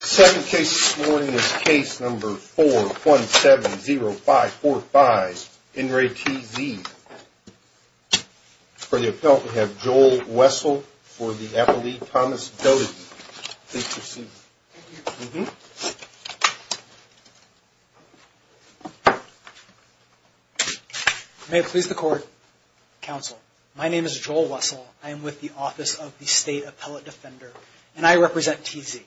Second case this morning is case number 4170545, in re T.Z. For the appellant, we have Joel Wessel for the appellee, Thomas Doty. Please proceed. Thank you. May it please the court. Counsel, my name is Joel Wessel. I am with the Office of the State Appellate Defender, and I represent T.Z.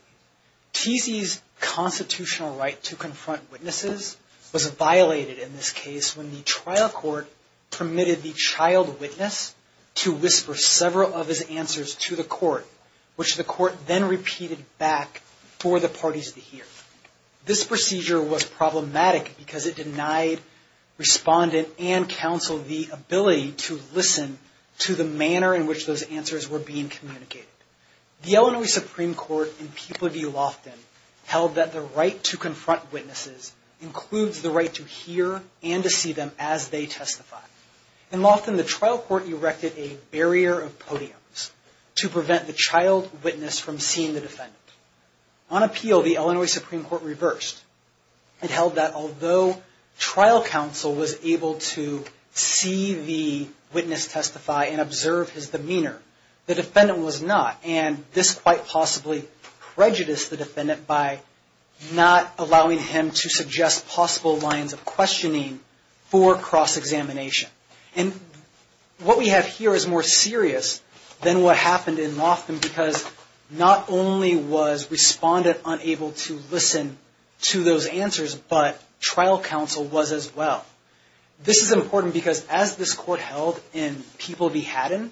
T.Z.'s constitutional right to confront witnesses was violated in this case when the trial court permitted the child witness to whisper several of his answers to the court, which the court then repeated back for the parties to hear. This procedure was problematic because it denied respondent and counsel the ability to listen to the manner in which those answers were being communicated. The Illinois Supreme Court in Peek Laview, Lofton, held that the right to confront witnesses includes the right to hear and to see them as they testify. In Lofton, the trial court erected a barrier of podiums to prevent the child witness from seeing the defendant. On appeal, the Illinois Supreme Court reversed. It held that although trial counsel was able to see the witness testify and observe his demeanor, the defendant was not. And this quite possibly prejudiced the defendant by not allowing him to suggest possible lines of questioning for cross-examination. And what we have here is more serious than what happened in Lofton because not only was respondent unable to listen to those answers, but trial counsel was as well. This is important because as this court held in People v. Haddon,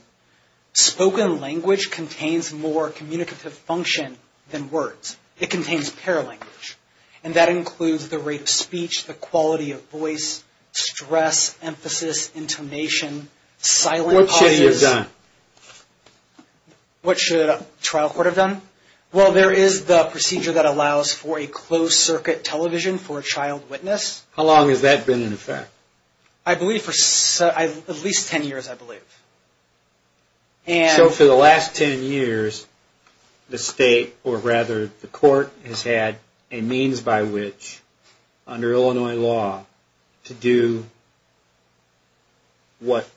spoken language contains more communicative function than words. It contains paralanguage. And that includes the rate of speech, the quality of voice, stress, emphasis, intonation, silent pauses. What should it have done? What should a trial court have done? Well, there is the procedure that allows for a closed circuit television for a child witness. How long has that been in effect? I believe for at least 10 years, I believe. And so for the last 10 years, the state, or rather the court, has had a means by which, under Illinois law, to do what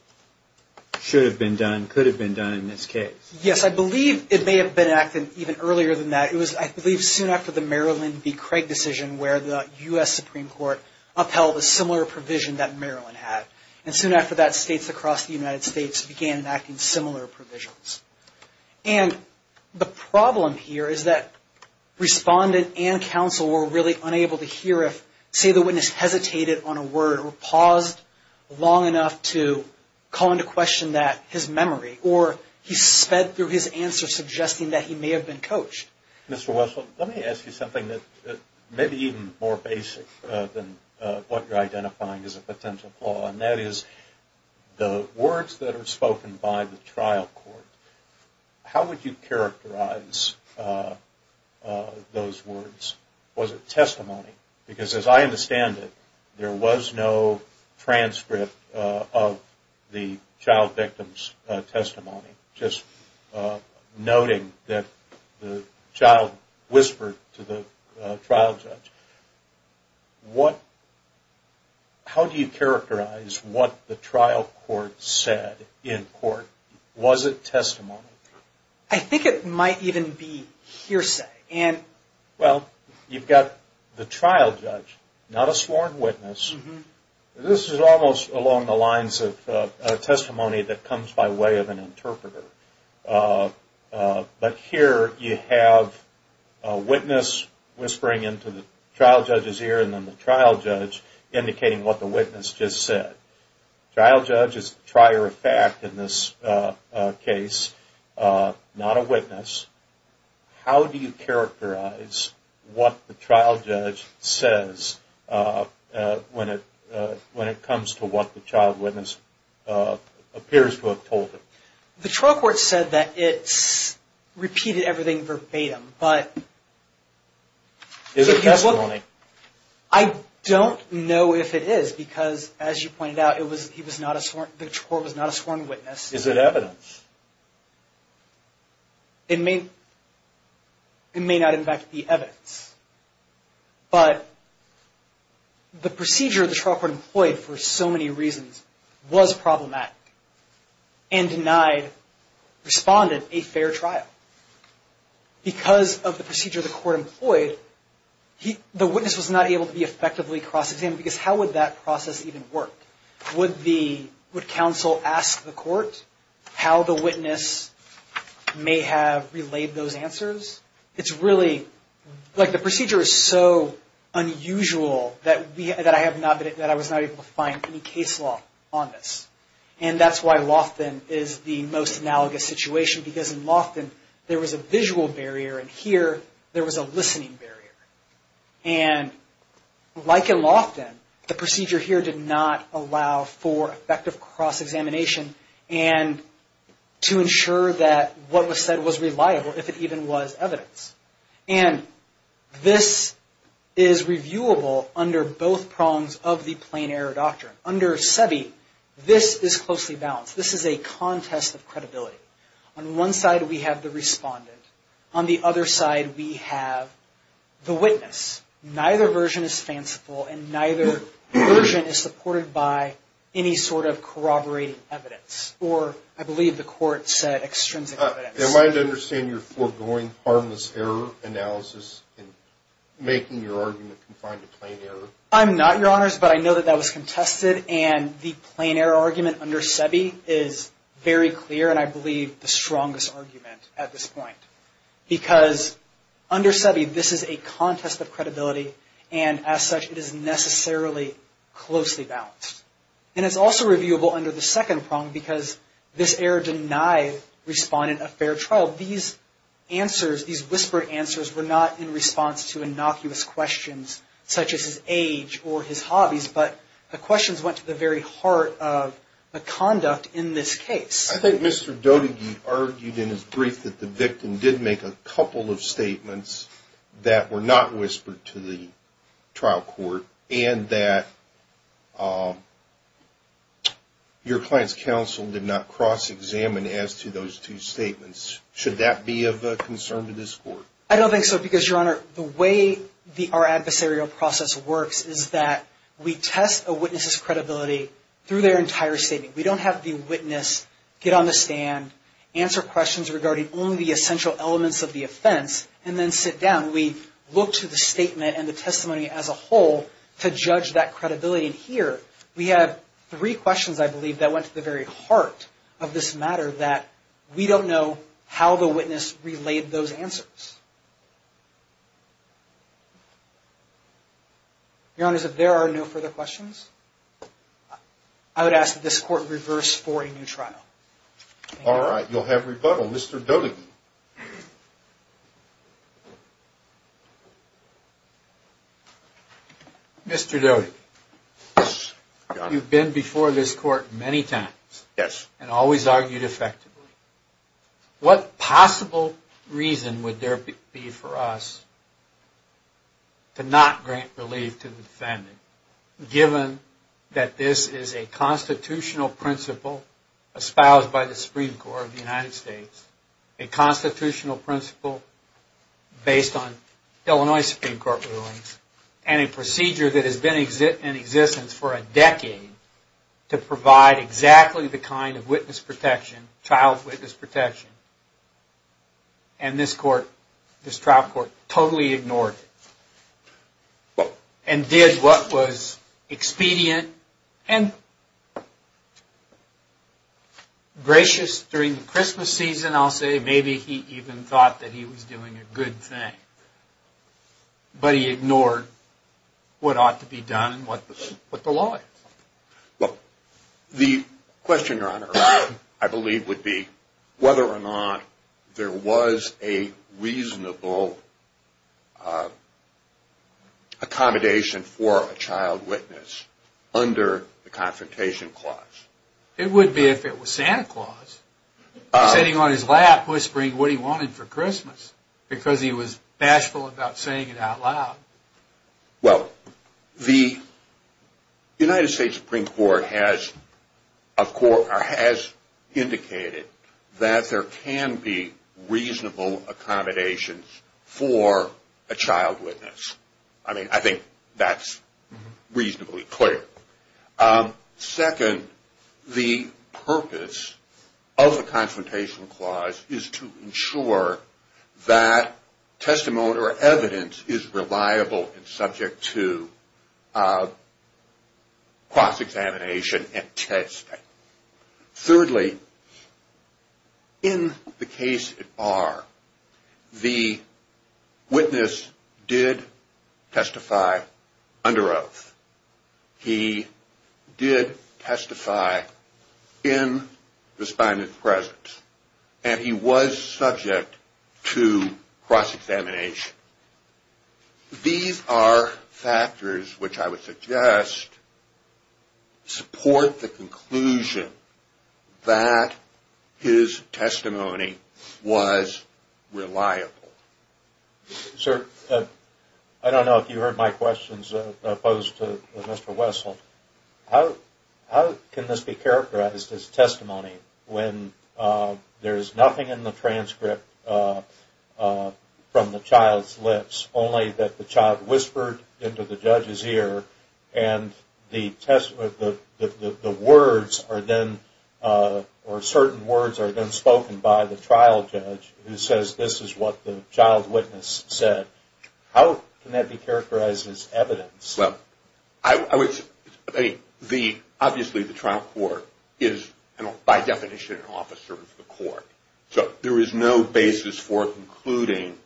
should have been done, could have been done in this case. Yes, I believe it may have been acted even earlier than that. It was, I believe, soon after the Maryland v. Craig decision where the U.S. Supreme Court upheld a similar provision that Maryland had. And soon after that, states across the United States began enacting similar provisions. And the problem here is that respondent and counsel were really unable to hear if, say, the witness hesitated on a word or paused long enough to call into question his memory, or he sped through his answer suggesting that he may have been coached. Mr. Wessel, let me ask you something that may be even more basic than what you're identifying as a potential flaw, and that is the words that are spoken by the trial court, how would you characterize those words? Was it testimony? Because as I understand it, there was no transcript of the child victim's testimony, just noting that the child whispered to the trial judge. How do you characterize what the trial court said in court? Was it testimony? I think it might even be hearsay. Well, you've got the trial judge, not a sworn witness. This is almost along the lines of testimony that comes by way of an interpreter. But here you have a witness whispering into the trial judge's ear, and then the trial judge indicating what the witness just said. Trial judge is the trier of fact in this case, not a witness. How do you characterize what the trial judge says when it comes to what the child witness appears to have told him? The trial court said that it's repeated everything verbatim, but... Is it testimony? I don't know if it is, because as you pointed out, the trial court was not a sworn witness. Is it evidence? It may not, in fact, be evidence. But the procedure the trial court employed for so many reasons was problematic and denied respondent a fair trial. Because of the procedure the court employed, the witness was not able to be effectively cross-examined, because how would that process even work? Would counsel ask the court how the witness may have relayed those answers? It's really... Like, the procedure is so unusual that I was not able to find any case law on this. And that's why Lofton is the most analogous situation, because in Lofton there was a visual barrier, and here there was a listening barrier. And like in Lofton, the procedure here did not allow for effective cross-examination and to ensure that what was said was reliable, if it even was evidence. And this is reviewable under both prongs of the plain error doctrine. Under SEBI, this is closely balanced. This is a contest of credibility. On one side, we have the respondent. On the other side, we have the witness. Neither version is fanciful, and neither version is supported by any sort of corroborating evidence, or, I believe the court said, extrinsic evidence. Am I to understand you're foregoing harmless error analysis in making your argument confined to plain error? I'm not, Your Honors, but I know that that was contested, and the plain error argument under SEBI is very clear, and I believe the strongest argument at this point. Because under SEBI, this is a contest of credibility, and as such, it is necessarily closely balanced. And it's also reviewable under the second prong, because this error denied respondent a fair trial. These answers, these whispered answers, were not in response to innocuous questions, such as his age or his hobbies, but the questions went to the very heart of the conduct in this case. I think Mr. Dotygie argued in his brief that the victim did make a couple of statements that were not whispered to the trial court, and that your client's counsel did not cross-examine as to those two statements. Should that be of concern to this court? I don't think so, because, Your Honor, the way our adversarial process works is that we test a witness's credibility through their entire statement. We don't have the witness get on the stand, answer questions regarding only the essential elements of the offense, and then sit down. We look to the statement and the testimony as a whole to judge that credibility. And here, we have three questions, I believe, that went to the very heart of this matter that we don't know how the witness relayed those answers. Your Honors, if there are no further questions, I would ask that this court reverse for a new trial. All right, you'll have rebuttal. Mr. Dotygie. Mr. Dotygie, you've been before this court many times and always argued effectively. What possible reason would there be for us to not grant relief to the defendant given that this is a constitutional principle espoused by the Supreme Court of the United States, a constitutional principle based on Illinois Supreme Court rulings, and a procedure that has been in existence for a decade to provide exactly the kind of child witness protection? And this trial court totally ignored it and did what was expedient and gracious during the Christmas season, I'll say. Maybe he even thought that he was doing a good thing. But he ignored what ought to be done, what the law is. The question, Your Honor, I believe would be whether or not there was a reasonable accommodation for a child witness under the Confrontation Clause. It would be if it was Santa Claus sitting on his lap whispering what he wanted for Christmas because he was bashful about saying it out loud. Well, the United States Supreme Court has indicated that there can be reasonable accommodations for a child witness. I mean, I think that's reasonably clear. Second, the purpose of the Confrontation Clause is to ensure that testimony or evidence is reliable and subject to cross-examination and testing. Thirdly, in the case at bar, the witness did testify under oath. He did testify in the spine of the presence and he was subject to cross-examination. These are factors which I would suggest support the conclusion that his testimony was reliable. Sir, I don't know if you heard my questions opposed to Mr. Wessel. How can this be characterized as testimony when there's nothing in the transcript from the child's lips, only that the child whispered into the judge's ear and certain words are then spoken by the trial judge who says this is what the child witness said? How can that be characterized as evidence? Well, obviously the trial court is, by definition, an officer of the court. So there is no basis for concluding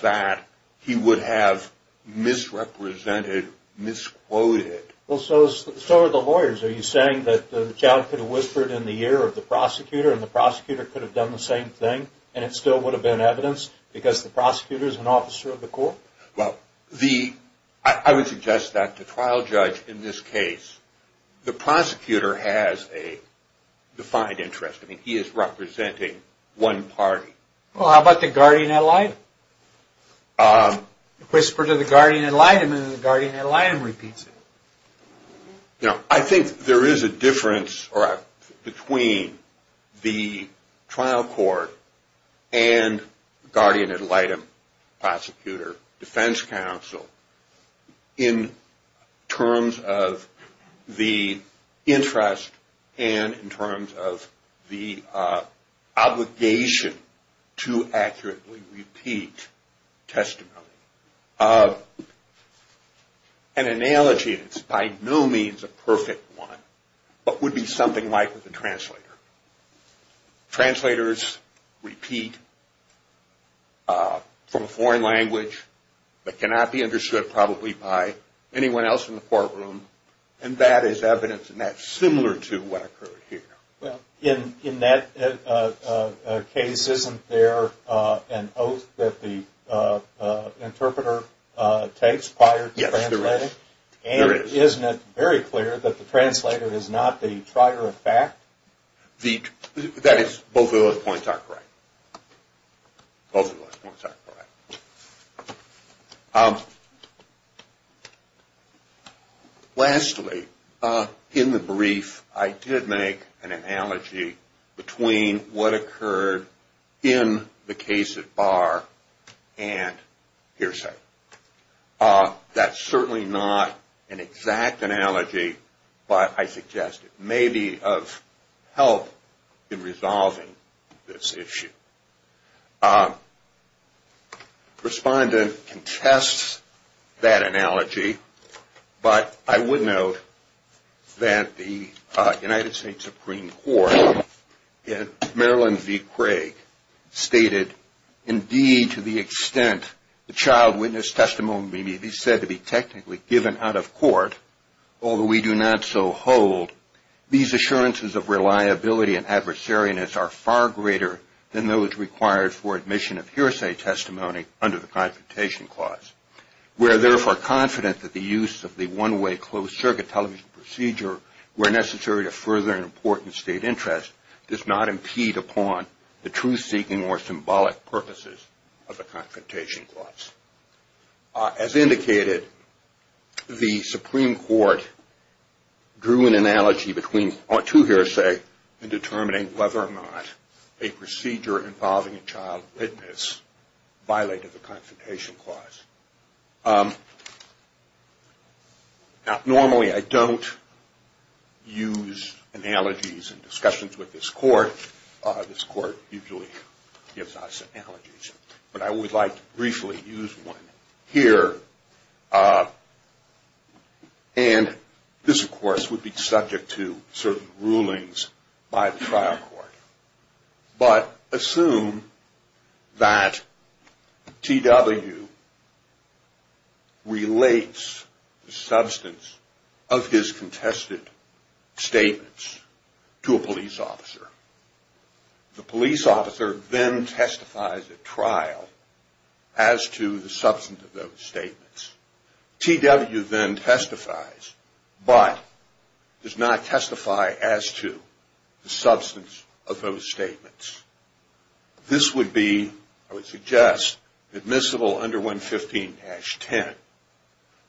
that he would have misrepresented, misquoted. Well, so are the lawyers. Are you saying that the child could have whispered in the ear of the prosecutor and the prosecutor could have done the same thing and it still would have been evidence because the prosecutor is an officer of the court? Well, I would suggest that the trial judge in this case, the prosecutor has a defined interest. I mean, he is representing one party. Well, how about the guardian ad litem? Whisper to the guardian ad litem and the guardian ad litem repeats it. I think there is a difference between the trial court and guardian ad litem, prosecutor, defense counsel in terms of the interest and in terms of the obligation to accurately repeat testimony. An analogy, and it's by no means a perfect one, but would be something like with a translator. Translators repeat from a foreign language that cannot be understood probably by anyone else in the courtroom and that is evidence and that's similar to what occurred here. In that case, isn't there an oath that the interpreter takes prior to translating? Yes, there is. And isn't it very clear that the translator is not the trier of fact? That is, both of those points are correct. Both of those points are correct. Lastly, in the brief, I did make an analogy between what occurred in the case at Barr and hearsay. That's certainly not an exact analogy, but I suggest it may be of help in resolving this issue. Respondent contests that analogy, but I would note that the United States Supreme Court in Maryland v. Craig stated, indeed to the extent the child witness testimony may be said to be technically given out of court, although we do not so hold, these assurances of reliability and adversariness are far greater than those required for admission of hearsay testimony under the Confrontation Clause. We are therefore confident that the use of the one-way closed-circuit television procedure, where necessary to further an important state interest, does not impede upon the truth-seeking or symbolic purposes of the Confrontation Clause. As indicated, the Supreme Court drew an analogy to hearsay in determining whether or not a procedure involving a child witness violated the Confrontation Clause. Now, normally I don't use analogies in discussions with this Court. This Court usually gives us analogies, but I would like to briefly use one here. And this, of course, would be subject to certain rulings by the trial court. But assume that T.W. relates the substance of his contested statements to a police officer. The police officer then testifies at trial as to the substance of those statements. T.W. then testifies, but does not testify as to the substance of those statements. This would be, I would suggest, admissible under 115-10.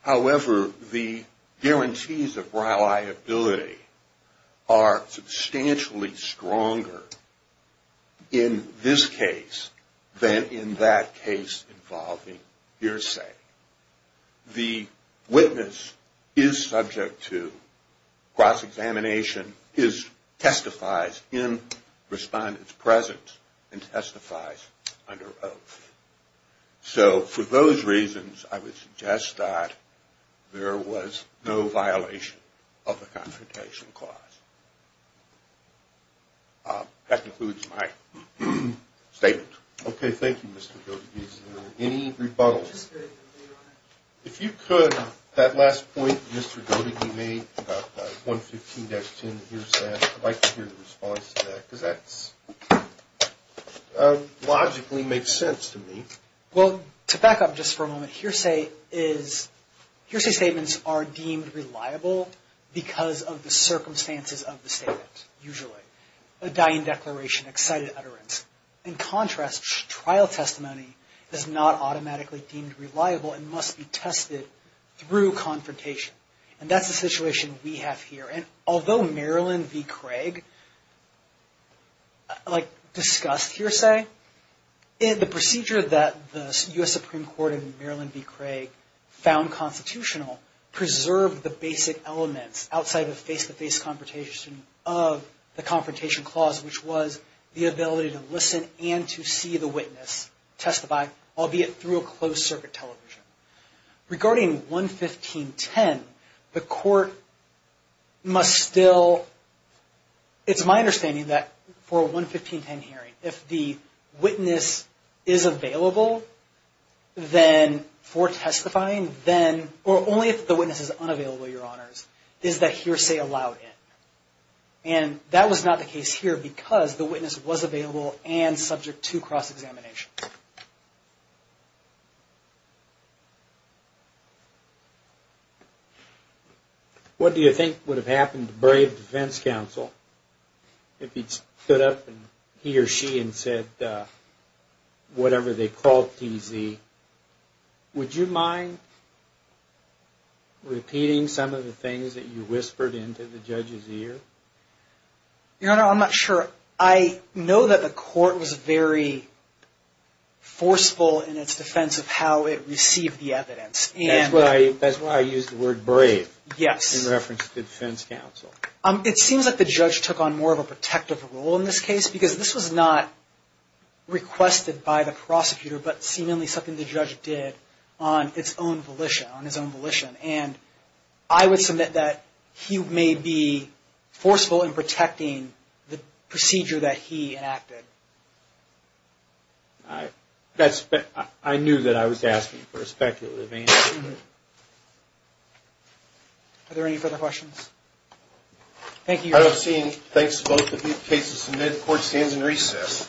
However, the guarantees of reliability are substantially stronger in this case than in that case involving hearsay. The witness is subject to cross-examination, testifies in respondent's presence, and testifies under oath. So for those reasons, I would suggest that there was no violation of the Confrontation Clause. That concludes my statement. Okay, thank you, Mr. Goedeke. Is there any rebuttal? If you could, that last point Mr. Goedeke made about 115-10 hearsay, I'd like to hear the response to that. Because that logically makes sense to me. Well, to back up just for a moment, hearsay is... usually. A dying declaration, excited utterance. In contrast, trial testimony is not automatically deemed reliable and must be tested through confrontation. And that's the situation we have here. And although Maryland v. Craig, like, discussed hearsay, the procedure that the U.S. Supreme Court in Maryland v. Craig found constitutional preserved the basic elements outside the face-to-face confrontation of the Confrontation Clause, which was the ability to listen and to see the witness testify, albeit through a closed-circuit television. Regarding 115-10, the court must still... It's my understanding that for a 115-10 hearing, if the witness is available for testifying, the hearing then, or only if the witness is unavailable, Your Honors, is the hearsay allowed in. And that was not the case here because the witness was available and subject to cross-examination. What do you think would have happened to Brave Defense Counsel if he'd stood up, he or she, and said whatever they called T.Z.? Would you mind repeating some of the things that you whispered into the judge's ear? Your Honor, I'm not sure. I know that the court was very forceful in its defense of how it received the evidence. That's why I used the word brave in reference to defense counsel. It seems like the judge took on more of a protective role in this case because this was not requested by the prosecutor, but seemingly something the judge did on its own volition, on his own volition. And I would submit that he may be forceful in protecting the procedure that he enacted. I knew that I was asking for a speculative answer. Are there any further questions? Thank you, Your Honor. I don't see any. Thanks to both of you. The case is submitted. Court stands in recess.